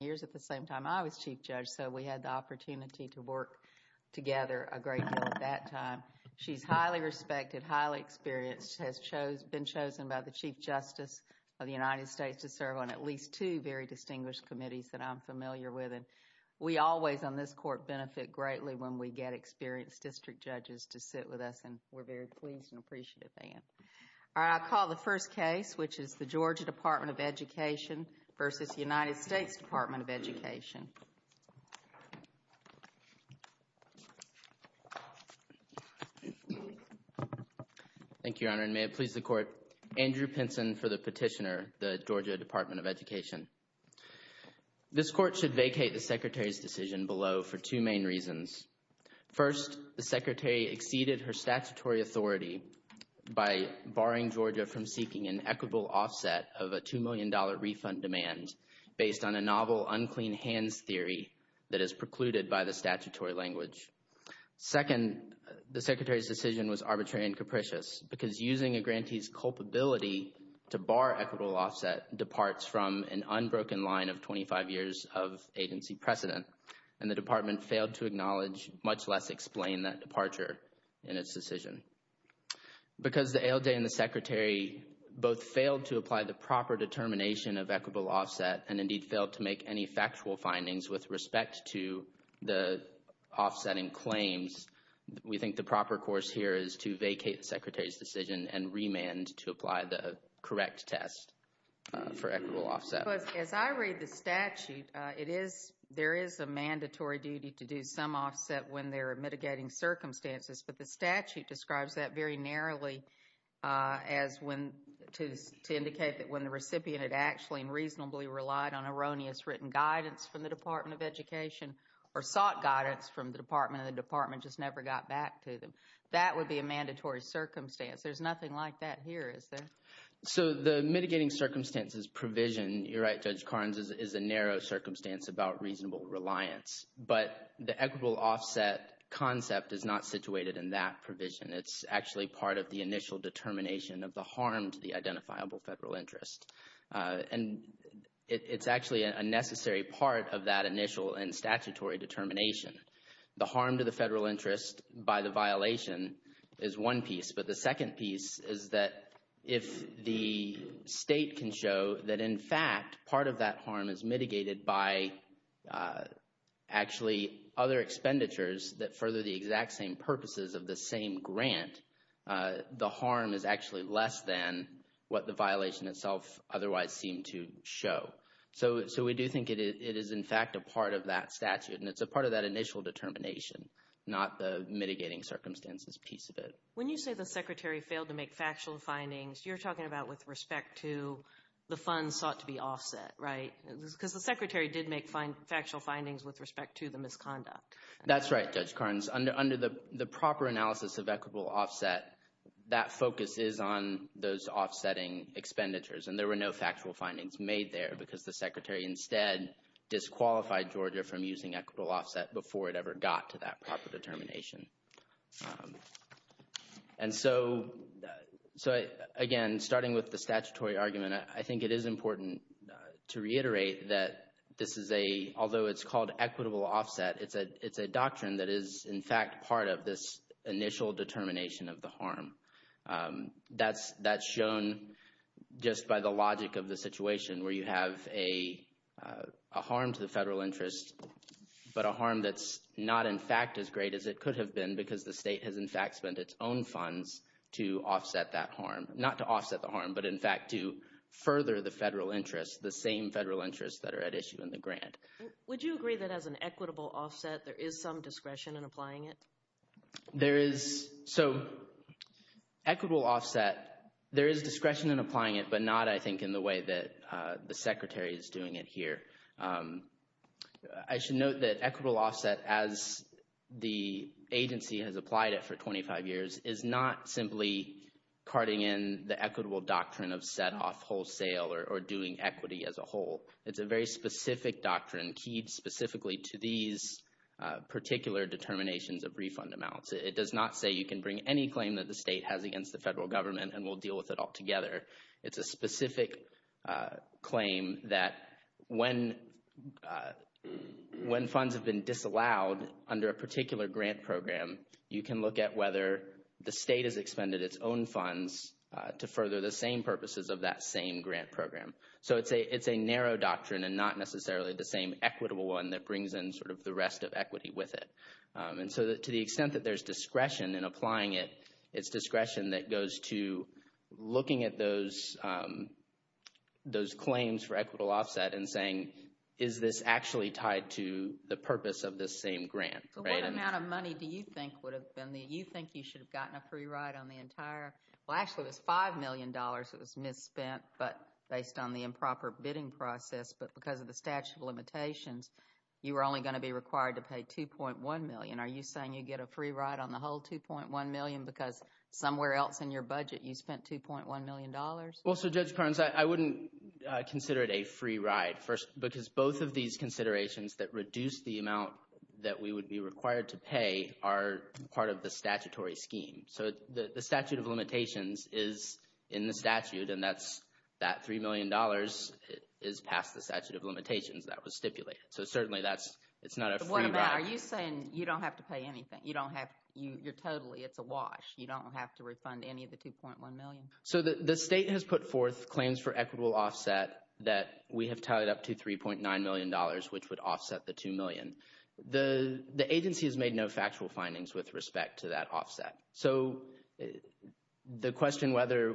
years at the same time I was Chief Judge so we had the opportunity to work together a great deal at that time. She's highly respected, highly experienced, has been chosen by the Chief Justice of the United States to serve on at least two very distinguished committees that I'm familiar with and we always on this court benefit greatly when we get experienced district judges to sit with us and we're very pleased and appreciative of Anne. I call the first case which is the Georgia Department of Education v. United States Department of Education. Thank you, Your Honor, and may it please the Court. Andrew Pinson for the petitioner, the Georgia Department of Education. This court should vacate the Secretary's decision below for two main reasons. First, the Secretary exceeded her statutory authority by barring Georgia from seeking an equitable offset of a $2 million refund demand based on a novel unclean hands theory that is precluded by the statutory language. Second, the Secretary's decision was arbitrary and capricious because using a grantee's culpability to bar equitable offset departs from an unbroken line of 25 years of agency precedent and the Department failed to acknowledge, much less explain, that departure in its decision. Because the ALDA and the Secretary both failed to apply the proper determination of equitable offset and indeed failed to make any factual findings with respect to the offsetting claims, we think the proper course here is to vacate the Secretary's decision and remand to apply the correct test for equitable offset. But as I read the statute, it is, there is a mandatory duty to do some offset when there are mitigating circumstances, but the statute describes that very narrowly as when to indicate that when the recipient had actually and reasonably relied on erroneous written guidance from the Department of Education or sought guidance from the Department and the Department just never got back to them. That would be a mandatory circumstance. There's nothing like that here, is there? So the mitigating circumstances provision, you're right Judge Carnes, is a narrow circumstance about reasonable reliance, but the equitable offset concept is not situated in that provision. It's actually part of the initial determination of the harm to the identifiable federal interest. And it's actually a necessary part of that initial and statutory determination. The harm to the federal interest by the violation is one piece, but the second piece is that if the state can show that in fact part of that harm is mitigated by actually other expenditures that further the exact same purposes of the same grant, the harm is actually less than what the violation itself otherwise seemed to show. So we do think it is in fact a part of that statute and it's a part of that initial determination, not the mitigating circumstances piece of it. When you say the Secretary failed to make factual findings, you're talking about with respect to the funds sought to be offset, right? Because the Secretary did make factual findings with respect to the misconduct. That's right, Judge Carnes. Under the proper analysis of equitable offset, that focus is on those offsetting expenditures and there were no factual findings made there because the Secretary instead disqualified Georgia from using equitable offset before it ever got to that proper determination. And so again, starting with the statutory argument, I think it is important to reiterate that this is a, although it's called equitable offset, it's a doctrine that is in fact part of this initial determination of the harm. That's shown just by the logic of the situation where you have a harm to the federal interest, but a harm that's not in fact as great as it could have been because the state has in fact spent its own funds to offset that harm. Not to offset the harm, but in fact to further the federal interest, the same federal interest that are at issue in the grant. Would you agree that as an equitable offset, there is some discretion in applying it? There is, so equitable offset, there is discretion in applying it, but not I think in the way that the Secretary is doing it here. I should note that equitable offset as the agency has applied it for 25 years is not simply carting in the equitable doctrine of set off wholesale or doing equity as a whole. It's a very specific doctrine keyed specifically to these particular determinations of refund amounts. It does not say you can bring any claim that the state has against the federal government and we'll deal with it all together. It's a specific claim that when funds have been disallowed under a particular grant program, you can look at whether the state has expended its own funds to further the same purposes of that same grant program. So it's a narrow doctrine and not necessarily the same equitable one that brings in sort of the rest of equity with it. And so to the extent that there's discretion in applying it, it's discretion that goes to looking at those claims for equitable offset and saying, is this actually tied to the purpose of this same grant? So what amount of money do you think would have been the, you think you should have gotten a free ride on the entire, well actually it was $5 million that was misspent, but based on the improper bidding process, but because of the statute of limitations, you were only going to be required to pay $2.1 million. Are you saying you get a free ride on the whole $2.1 million because somewhere else in your budget you spent $2.1 million? Well, so Judge Perkins, I wouldn't consider it a free ride because both of these considerations that reduce the amount that we would be required to pay are part of the statutory scheme. So the statute of limitations is in the statute and that's, that $3 million is past the statute of limitations that was stipulated. So certainly that's, it's not a free ride. What about, are you saying you don't have to pay anything? You don't have, you're totally, it's a wash. You don't have to refund any of the $2.1 million? So the state has put forth claims for equitable offset that we have tallied up to $3.9 million, which would offset the $2 million. The agency has made no factual findings with respect to that offset. So the question whether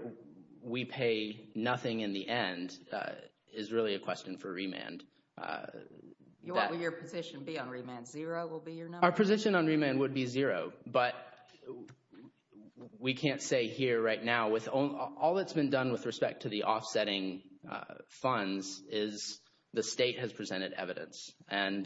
we pay nothing in the end is really a question for remand. Will your position be on remand? Zero will be your number? Our position on remand would be zero, but we can't say here right now. All that's been done with respect to the offsetting funds is the state has presented evidence and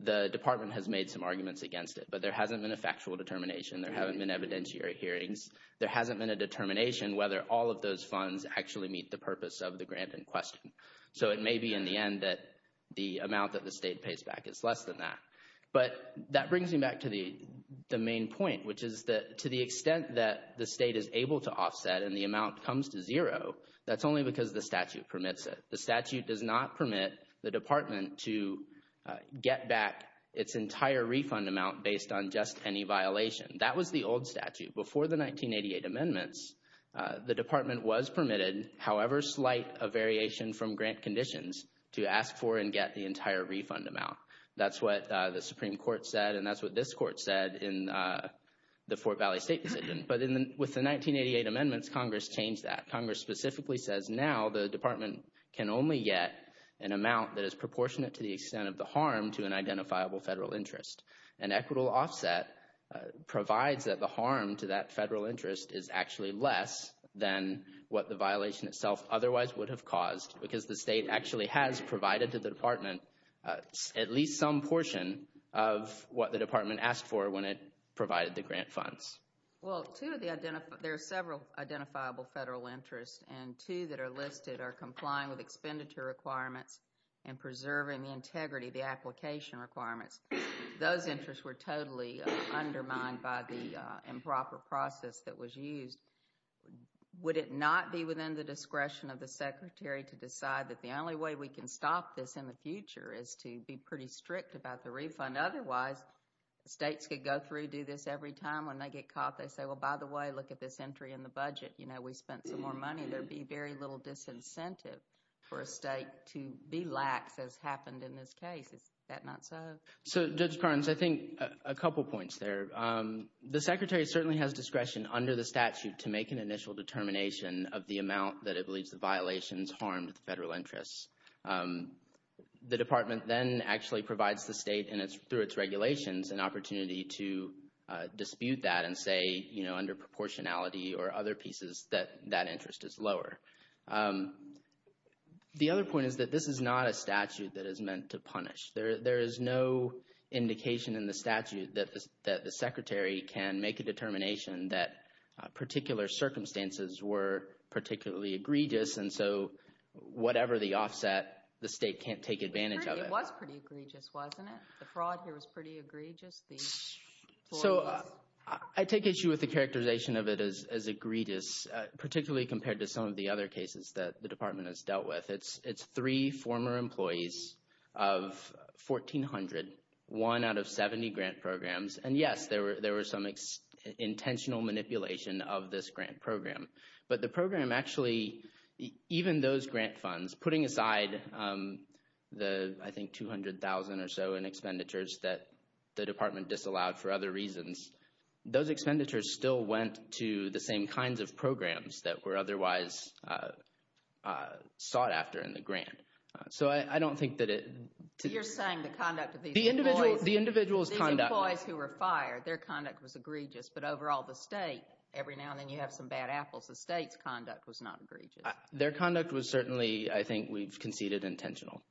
the department has made some arguments against it, but there hasn't been a factual determination. There haven't been evidentiary hearings. There hasn't been a determination whether all of those funds actually meet the purpose of the grant in question. So it may be in the end that the amount that the state pays back is less than that. But that brings me back to the main point, which is that to the extent that the state is able to offset and the amount comes to zero, that's only because the statute permits it. The statute does not permit the department to get back its entire refund amount based on just any violation. That was the old statute. Before the 1988 amendments, the department was permitted however slight a variation from grant conditions to ask for and get the entire refund amount. That's what the Supreme Court said and that's what this court said in the Fort Valley State decision. But with the 1988 amendments, Congress changed that. Congress specifically says now the department can only get an amount that is proportionate to the extent of the harm to an identifiable federal interest. An equitable offset provides that the harm to that federal interest is actually less than what the violation itself otherwise would have caused because the state actually has provided to the department at least some portion of what the department asked for when it provided the grant funds. Well, there are several identifiable federal interests and two that are listed are complying with expenditure requirements and preserving the integrity of the application requirements. Those interests were totally undermined by the improper process that was used. Would it not be within the discretion of the secretary to decide that the only way we can stop this in the future is to be pretty strict about the refund? Otherwise, states could go through, do this every time. When they get caught, they say, well, by the way, look at this entry in the budget. You know, we spent some more money. There'd be very little disincentive for a state to be lax as happened in this case. Is that not so? So, Judge Carnes, I think a couple points there. The secretary certainly has discretion under the statute to make an initial determination of the amount that it believes the violations harmed the federal interests. The department then actually provides the state through its regulations an opportunity to dispute that and say, you know, under proportionality or other pieces that that interest is lower. The other point is that this is not a statute that is meant to punish. There is no indication in the statute that the secretary can make a determination that particular circumstances were particularly egregious. And so, whatever the offset, the state can't take advantage of it. It was pretty egregious, wasn't it? The fraud here was pretty egregious. So, I take issue with the characterization of it as egregious, particularly compared to some of the other cases that the department has dealt with. It's three former employees of 1,400, one out of 70 grant programs. And yes, there were some intentional manipulation of this grant program. But the program actually, even those grant funds, putting aside the, I think, 200,000 or so in expenditures that the department disallowed for other reasons, those expenditures still went to the same kinds of programs that were otherwise sought after in the grant. So, I don't think that it. So, you're saying the conduct of these employees. The individual's conduct. These employees who were fired, their conduct was egregious. But overall, the state, every now and then you have some bad apples. The state's conduct was not egregious. Their conduct was certainly, I think, we've conceded intentional.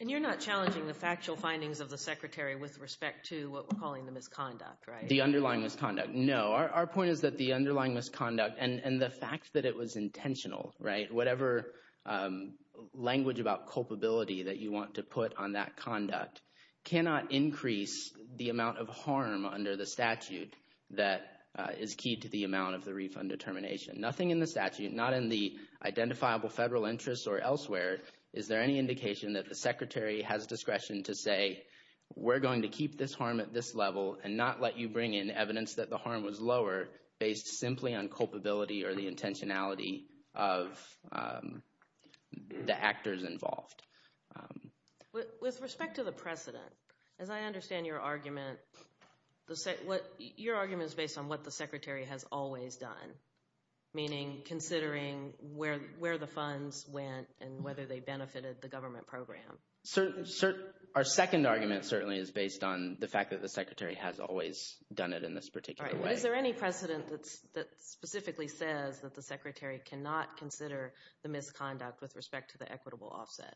And you're not challenging the factual findings of the secretary with respect to what we're calling the misconduct, right? The underlying misconduct. No. Our point is that the underlying misconduct and the fact that it was intentional, right? Whatever language about culpability that you want to put on that conduct cannot increase the amount of harm under the statute that is key to the amount of the refund determination. Nothing in the statute, not in the identifiable federal interests or elsewhere, is there any indication that the secretary has discretion to say, we're going to keep this harm at this level and not let you bring in evidence that the harm was lower based simply on culpability or the intentionality of the actors involved? With respect to the precedent, as I understand your argument, your argument is based on what the secretary has always done. Meaning, considering where the funds went and whether they benefited the government program. Our second argument certainly is based on the fact that the secretary has always done it in this particular way. Is there any precedent that specifically says that the secretary cannot consider the misconduct with respect to the equitable offset?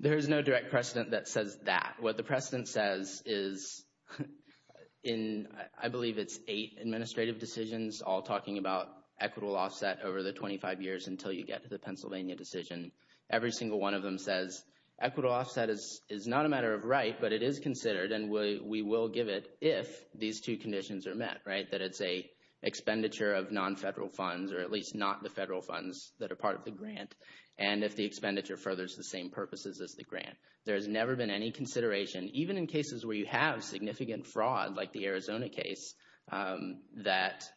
There is no direct precedent that says that. What the precedent says is in, I believe it's eight administrative decisions all talking about equitable offset over the 25 years until you get to the Pennsylvania decision. Every single one of them says equitable offset is not a matter of right, but it is considered and we will give it if these two conditions are met, right? That it's a expenditure of non-federal funds or at least not the federal funds that are part of the grant and if the expenditure furthers the same purposes as the grant. There has never been any consideration, even in cases where you have significant fraud like the Arizona case, that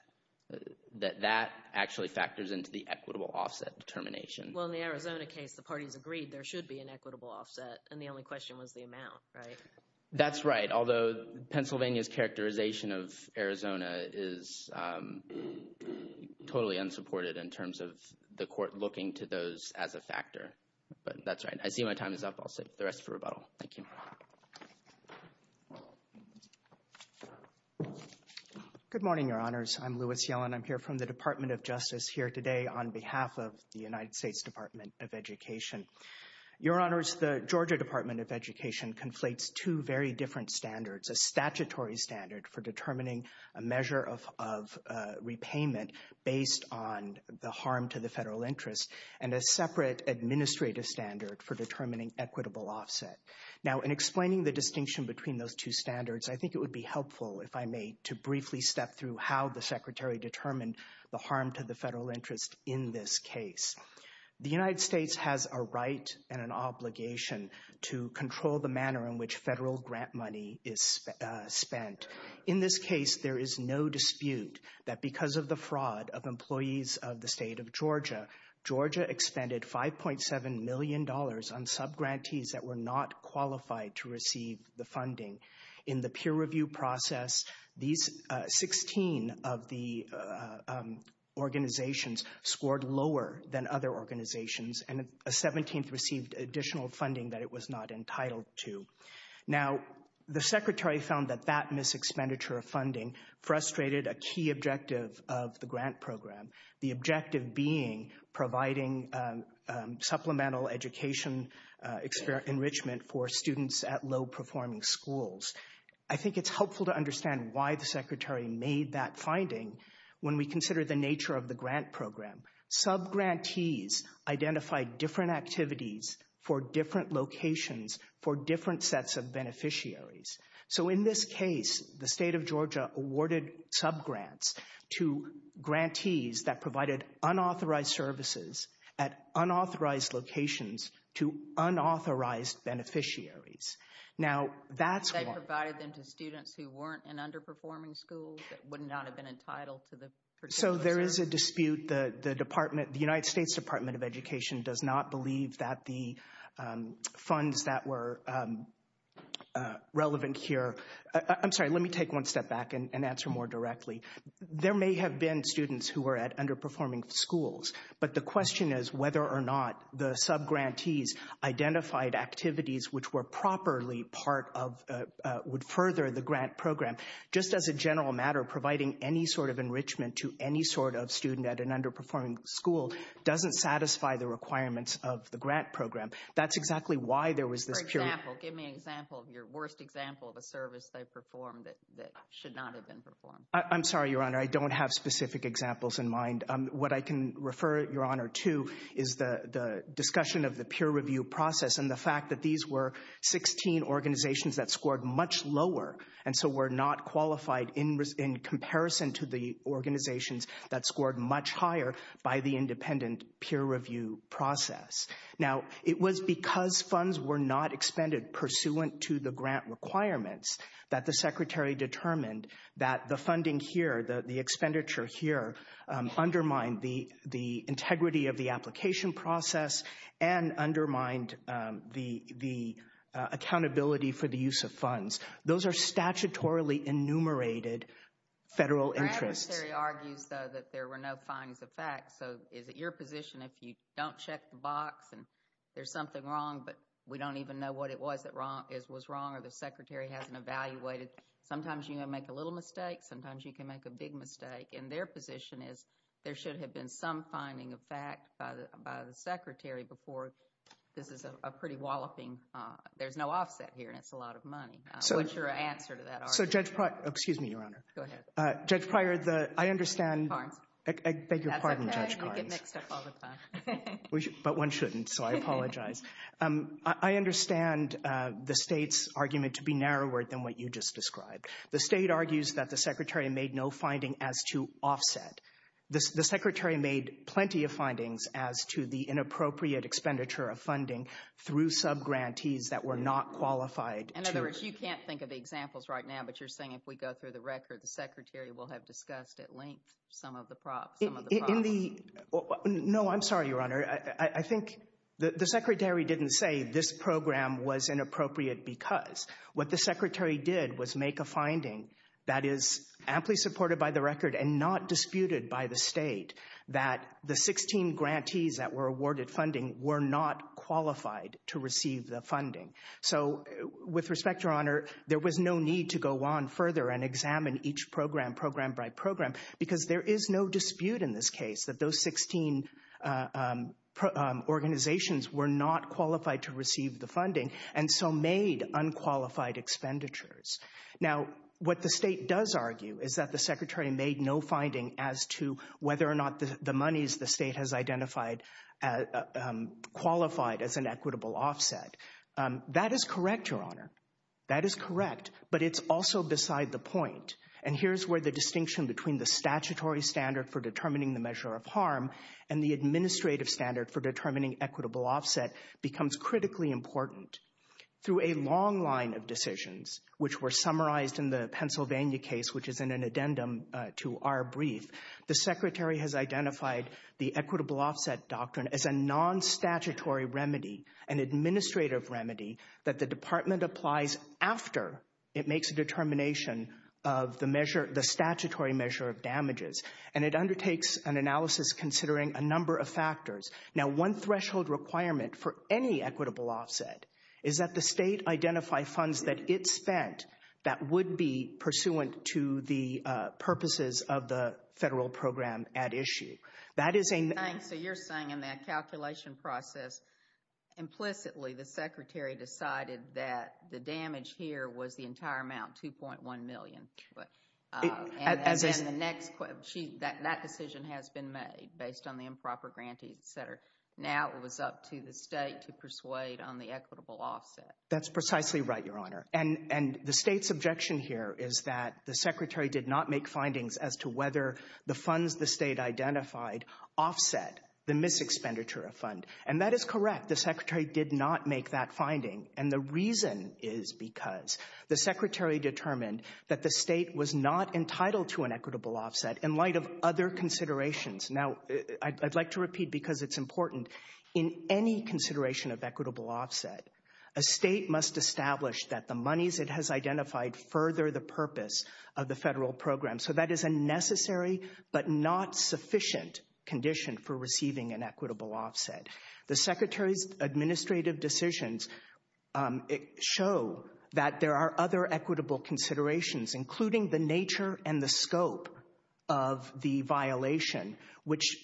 that actually factors into the equitable offset determination. Well, in the Arizona case, the parties agreed there should be an equitable offset and the only question was the amount, right? That's right. Although Pennsylvania's characterization of Arizona is totally unsupported in terms of the court looking to those as a factor. But that's right. I see my time is up. I'll save the rest for rebuttal. Thank you. Good morning, your honors. I'm Louis Yellen. I'm here from the Department of Justice here today on behalf of the United States Department of Education. Your honors, the Georgia Department of Education conflates two very different standards. A statutory standard for determining a measure of repayment based on the harm to the federal interest and a separate administrative standard for determining equitable offset. Now, in explaining the distinction between those two standards, I think it would be helpful to understand the harm to the federal interest in this case. The United States has a right and an obligation to control the manner in which federal grant money is spent. In this case, there is no dispute that because of the fraud of employees of the state of Georgia, Georgia expended $5.7 million on subgrantees that were not qualified to receive the funding. In the peer review process, 16 of the organizations scored lower than other organizations and a 17th received additional funding that it was not entitled to. Now, the secretary found that that mis-expenditure of funding frustrated a key objective of the grant program. The objective being providing supplemental education enrichment for students at low-performing schools. I think it's helpful to understand why the secretary made that finding when we consider the nature of the grant program. Subgrantees identified different activities for different locations for different sets of beneficiaries. So in this case, the state of Georgia awarded subgrants to grantees that provided unauthorized services at unauthorized locations to unauthorized beneficiaries. Now, that's one. They provided them to students who weren't in underperforming schools that would not have been entitled to the particular services. So there is a dispute. The department, the United States Department of Education does not believe that the funds that were relevant here. I'm sorry, let me take one step back and answer more directly. There may have been students who were at underperforming schools, but the question is whether or not the subgrantees identified activities which were properly part of, would further the grant program. Just as a general matter, providing any sort of enrichment to any sort of student at an underperforming school doesn't satisfy the requirements of the grant program. That's exactly why there was this period. For example, give me an example, your worst example of a service they performed that should not have been performed. I'm sorry, Your Honor. I don't have specific examples in mind. What I can refer, Your Honor, to is the discussion of the peer review process and the fact that these were 16 organizations that scored much lower and so were not qualified in comparison to the organizations that scored much higher by the independent peer review process. Now, it was because funds were not expended pursuant to the grant requirements that the Secretary determined that the funding here, the expenditure here, undermined the integrity of the application process and undermined the accountability for the use of funds. Those are statutorily enumerated federal interests. Your adversary argues, though, that there were no findings of fact. So is it your position if you don't check the box and there's something wrong but we don't even know what it was that was wrong or the Secretary hasn't evaluated? Sometimes you can make a little mistake. Sometimes you can make a big mistake. And their position is there should have been some finding of fact by the Secretary before this is a pretty walloping, there's no offset here and it's a lot of money. What's your answer to that argument? So Judge Pryor, excuse me, Your Honor. Go ahead. Judge Pryor, I understand. Karnes. I beg your pardon, Judge Karnes. That's okay. You get mixed up all the time. But one shouldn't, so I apologize. I understand the state's argument to be narrower than what you just described. The state argues that the Secretary made no finding as to offset. The Secretary made plenty of findings as to the inappropriate expenditure of funding through subgrantees that were not qualified to. In other words, you can't think of the examples right now, but you're saying if we go through the record, the Secretary will have discussed at length some of the props, some of the problems. No, I'm sorry, Your Honor. I think the Secretary didn't say this program was inappropriate because. What the Secretary did was make a finding that is amply supported by the record and not disputed by the state that the 16 grantees that were awarded funding were not qualified to receive the funding. So with respect, Your Honor, there was no need to go on further and examine each program, program by program, because there is no dispute in this case and so made unqualified expenditures. Now, what the state does argue is that the Secretary made no finding as to whether or not the monies the state has identified qualified as an equitable offset. That is correct, Your Honor. That is correct, but it's also beside the point. And here's where the distinction between the statutory standard for determining the measure of harm and the administrative standard for determining equitable offset becomes critically important. Through a long line of decisions, which were summarized in the Pennsylvania case, which is in an addendum to our brief, the Secretary has identified the equitable offset doctrine as a non-statutory remedy, an administrative remedy that the Department applies after it makes a determination of the measure, the statutory measure of damages. And it undertakes an analysis considering a number of factors. Now, one threshold requirement for any equitable offset is that the state identify funds that it spent that would be pursuant to the purposes of the federal program at issue. That is a... Thanks. So you're saying in that calculation process, implicitly, the Secretary decided that the damage here was the entire amount, 2.1 million. And then the next... That decision has been made based on the improper grantees, et cetera. Now it was up to the state to persuade on the equitable offset. That's precisely right, Your Honor. And the state's objection here is that the Secretary did not make findings as to whether the funds the state identified offset the mis-expenditure of fund. And that is correct. The Secretary did not make that finding. And the reason is because the Secretary determined that the state was not entitled to an equitable offset in light of other considerations. Now, I'd like to repeat because it's important. In any consideration of equitable offset, a state must establish that the monies it has identified further the purpose of the federal program. So that is a necessary but not sufficient condition for receiving an equitable offset. The Secretary's administrative decisions show that there are other equitable considerations, including the nature and the scope of the violation, which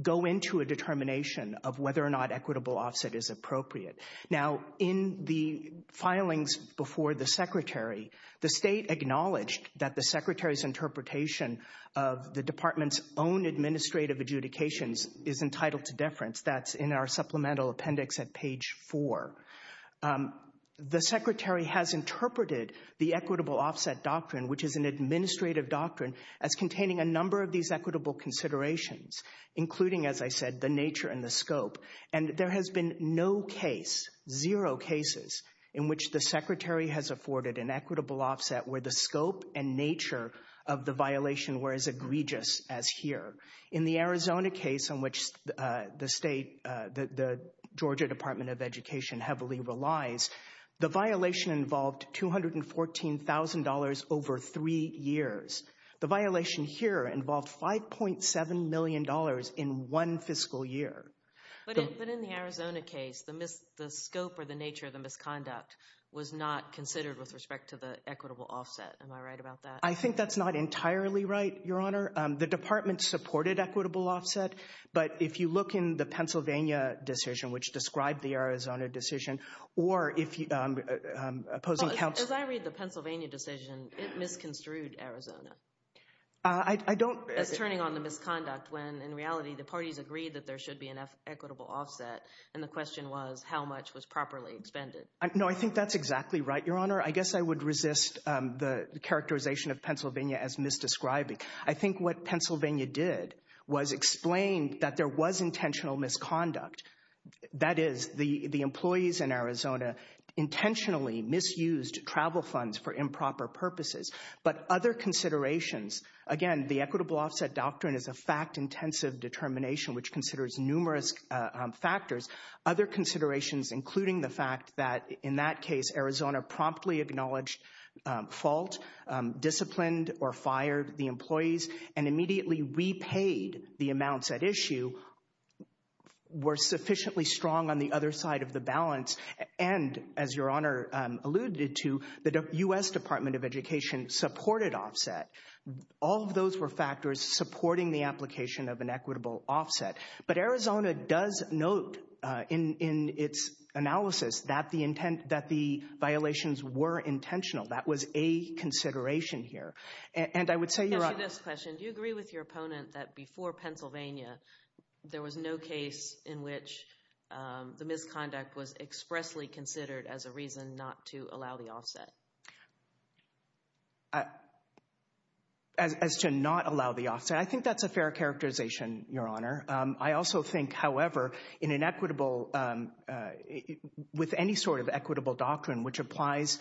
go into a determination of whether or not equitable offset is appropriate. Now, in the filings before the Secretary, the state acknowledged that the Secretary's interpretation of the department's own administrative adjudications is entitled to deference. That's in our supplemental appendix at page four. The Secretary has interpreted the equitable offset doctrine, which is an administrative doctrine, as containing a number of these equitable considerations, including, as I said, the nature and the scope. And there has been no case, zero cases, in which the Secretary has afforded an equitable offset where the scope and nature of the violation were as egregious as here. In the Arizona case, in which the Georgia Department of Education heavily relies, the violation involved $214,000 over three years. The violation here involved $5.7 million in one fiscal year. But in the Arizona case, the scope or the nature of the misconduct was not considered with respect to the equitable offset. Am I right about that? I think that's not entirely right, Your Honor. The department supported equitable offset. But if you look in the Pennsylvania decision, which described the Arizona decision, or if you, opposing counsel. As I read the Pennsylvania decision, it misconstrued Arizona. I don't. As turning on the misconduct when, in reality, the parties agreed that there should be an equitable offset. And the question was, how much was properly expended? No, I think that's exactly right, Your Honor. I guess I would resist the characterization of Pennsylvania as misdescribing. I think what Pennsylvania did was explain that there was intentional misconduct. That is, the employees in Arizona intentionally misused travel funds for improper purposes, but other considerations. Again, the equitable offset doctrine is a fact-intensive determination, which considers numerous factors. Other considerations, including the fact that, in that case, Arizona promptly acknowledged fault, disciplined or fired the employees, and immediately repaid the amounts at issue were sufficiently strong on the other side of the balance. And, as Your Honor alluded to, the U.S. Department of Education supported offset. All of those were factors supporting the application of an equitable offset. But Arizona does note in its analysis that the violations were intentional. That was a consideration here. And I would say, Your Honor— To answer this question, do you agree with your opponent that, before Pennsylvania, there was no case in which the misconduct was expressly considered as a reason not to allow the offset? As to not allow the offset? I think that's a fair characterization, Your Honor. I also think, however, in an equitable— with any sort of equitable doctrine which applies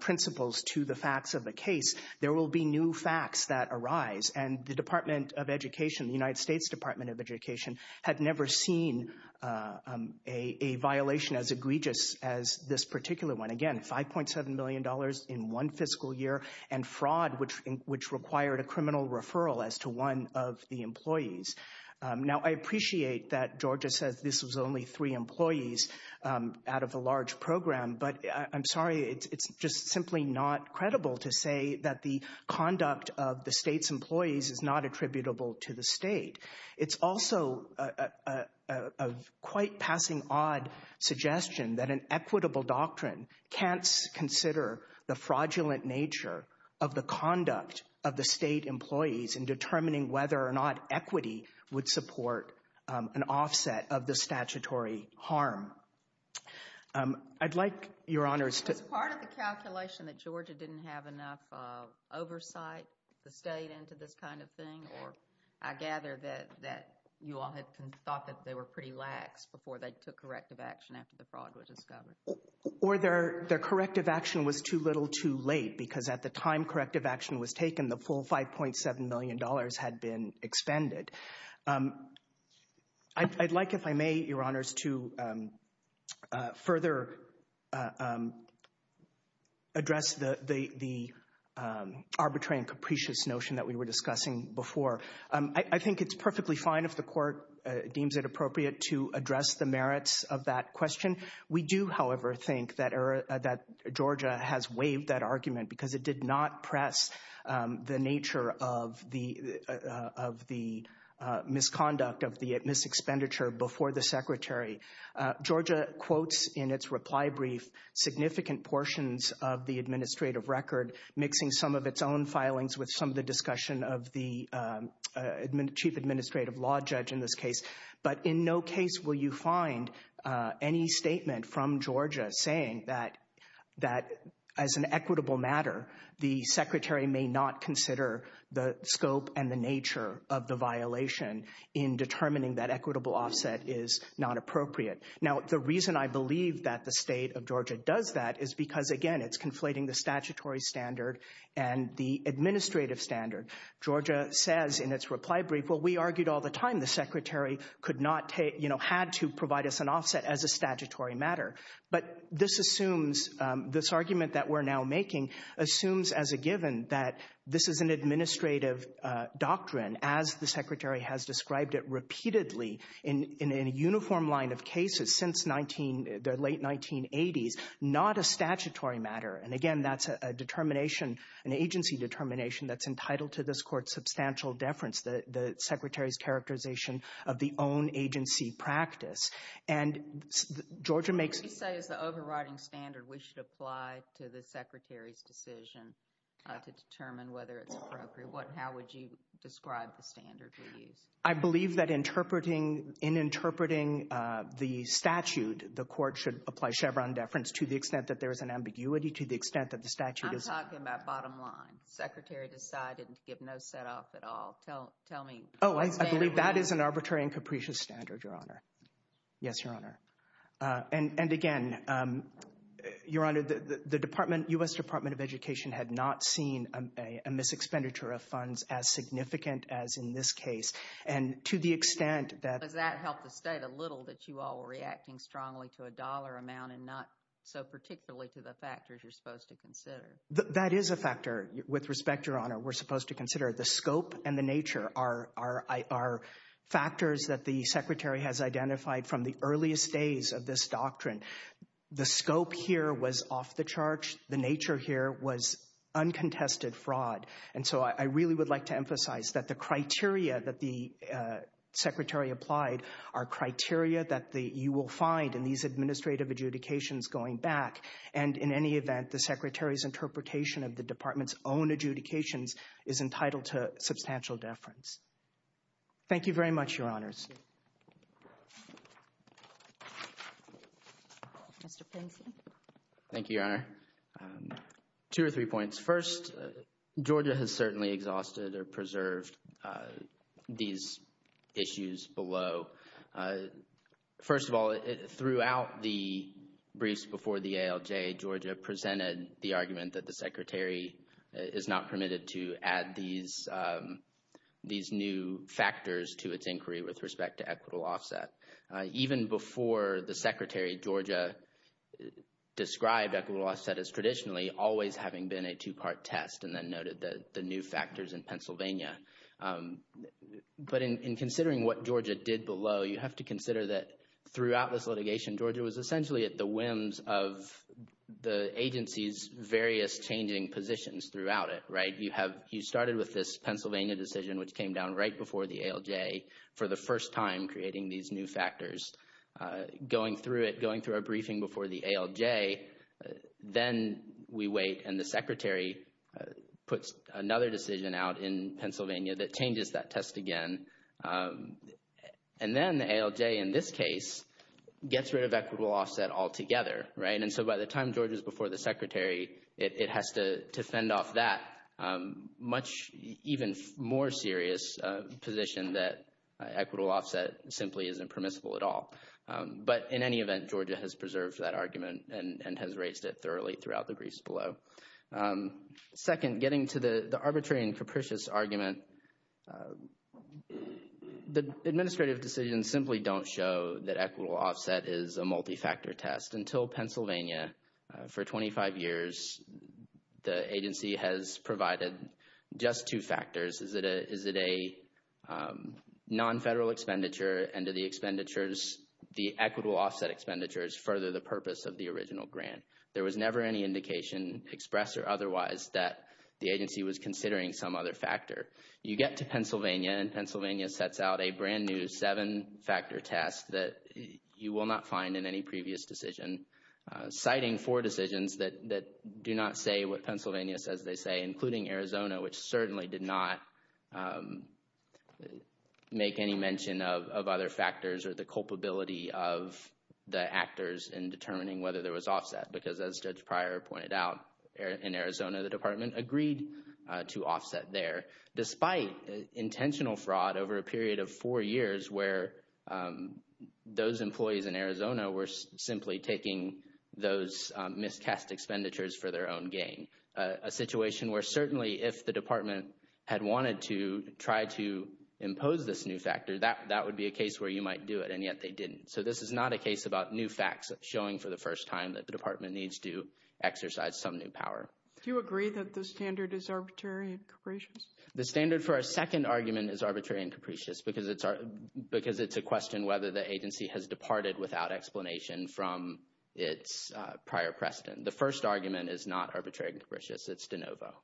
principles to the facts of the case, there will be new facts that arise. And the Department of Education, the United States Department of Education, had never seen a violation as egregious as this particular one. Again, $5.7 million in one fiscal year, and fraud which required a criminal referral as to one of the employees. Now, I appreciate that Georgia says this was only three employees out of a large program, but I'm sorry, it's just simply not credible to say that the conduct of the state's employees is not attributable to the state. It's also a quite passing odd suggestion that an equitable doctrine can't consider the fraudulent nature of the conduct of the state employees in determining whether or not equity would support an offset of the statutory harm. I'd like, Your Honors, to— Was part of the calculation that Georgia didn't have enough oversight, the state, into this kind of thing? Or I gather that you all had thought that they were pretty lax before they took corrective action after the fraud was discovered. Or their corrective action was too little too late, because at the time corrective action was taken, the full $5.7 million had been expended. I'd like, if I may, Your Honors, to further address the arbitrary and capricious notion that we were discussing before. I think it's perfectly fine if the Court deems it appropriate to address the merits of that question. We do, however, think that Georgia has waived that argument because it did not press the nature of the misconduct, of the mis-expenditure before the Secretary. Georgia quotes in its reply brief significant portions of the administrative record, mixing some of its own filings with some of the discussion of the chief administrative law judge in this case. But in no case will you find any statement from Georgia saying that as an equitable matter, the Secretary may not consider the scope and the nature of the violation in determining that equitable offset is not appropriate. Now, the reason I believe that the state of Georgia does that is because, again, it's conflating the statutory standard and the administrative standard. Georgia says in its reply brief, well, we argued all the time the Secretary could not take, you know, had to provide us an offset as a statutory matter. But this assumes, this argument that we're now making assumes as a given that this is an administrative doctrine, as the Secretary has described it repeatedly in a uniform line of cases since 19, the late 1980s, not a statutory matter. And again, that's a determination, an agency determination that's entitled to this Court's substantial deference, the Secretary's characterization of the own agency practice. And Georgia makes... You say as the overriding standard, we should apply to the Secretary's decision to determine whether it's appropriate. What, how would you describe the standard we use? I believe that interpreting, in interpreting the statute, the Court should apply Chevron deference to the extent that there is an ambiguity, to the extent that the statute is... I'm talking about bottom line. The Secretary decided to give no set off at all. Tell me... Oh, I believe that is an arbitrary and capricious standard, Your Honor. Yes, Your Honor. And again, Your Honor, the Department, U.S. Department of Education had not seen a mis-expenditure of funds as significant as in this case. And to the extent that... Does that help to state a little that you all were reacting strongly to a dollar amount and not so particularly to the factors you're supposed to consider? That is a factor. With respect, Your Honor, we're supposed to consider the scope and the nature are factors that the Secretary has identified from the earliest days of this doctrine. The scope here was off the charts. The nature here was uncontested fraud. And so I really would like to emphasize that the criteria that the Secretary applied are criteria that you will find in these administrative adjudications going back. And in any event, the Secretary's interpretation of the Department's own adjudications is entitled to substantial deference. Thank you very much, Your Honors. Mr. Pinsley. Thank you, Your Honor. Two or three points. First, Georgia has certainly exhausted or preserved these issues below. So, first of all, throughout the briefs before the ALJ, Georgia presented the argument that the Secretary is not permitted to add these new factors to its inquiry with respect to equitable offset. Even before the Secretary, Georgia described equitable offset as traditionally always having been a two-part test and then noted the new factors in Pennsylvania. But in considering what Georgia did below, you have to consider that throughout this litigation, Georgia was essentially at the whims of the agency's various changing positions throughout it, right? You started with this Pennsylvania decision, which came down right before the ALJ, for the first time creating these new factors. Going through it, going through a briefing before the ALJ, then we wait and the Secretary puts another decision out in Pennsylvania that changes that test again. And then the ALJ, in this case, gets rid of equitable offset altogether, right? And so by the time Georgia's before the Secretary, it has to fend off that much even more serious position that equitable offset simply isn't permissible at all. But in any event, Georgia has preserved that argument and has raised it thoroughly throughout the briefs below. Second, getting to the arbitrary and capricious argument, the administrative decisions simply don't show that equitable offset is a multi-factor test. Until Pennsylvania, for 25 years, the agency has provided just two factors. Is it a non-federal expenditure? And do the expenditures, the equitable offset expenditures, further the purpose of the original grant? There was never any indication, expressed or otherwise, that the agency was considering some other factor. You get to Pennsylvania and Pennsylvania sets out a brand new seven-factor test that you will not find in any previous decision, citing four decisions that do not say what Pennsylvania says they say, including Arizona, which certainly did not make any mention of other factors or the culpability of the actors in determining whether there was offset. Because as Judge Pryor pointed out, in Arizona, the Department agreed to offset there, despite intentional fraud over a period of four years where those employees in Arizona were simply taking those miscast expenditures for their own gain. A situation where certainly if the Department had wanted to try to impose this new factor, that would be a case where you might do it, and yet they didn't. So this is not a case about new facts showing for the first time that the Department needs to exercise some new power. Do you agree that the standard is arbitrary and capricious? The standard for our second argument is arbitrary and capricious because it's a question whether the agency has departed without explanation from its prior precedent. The first argument is not arbitrary and capricious. It's de novo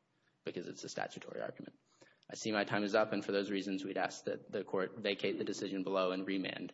because it's a statutory argument. I see my time is up, and for those reasons, we'd ask that the court vacate the decision below and remand.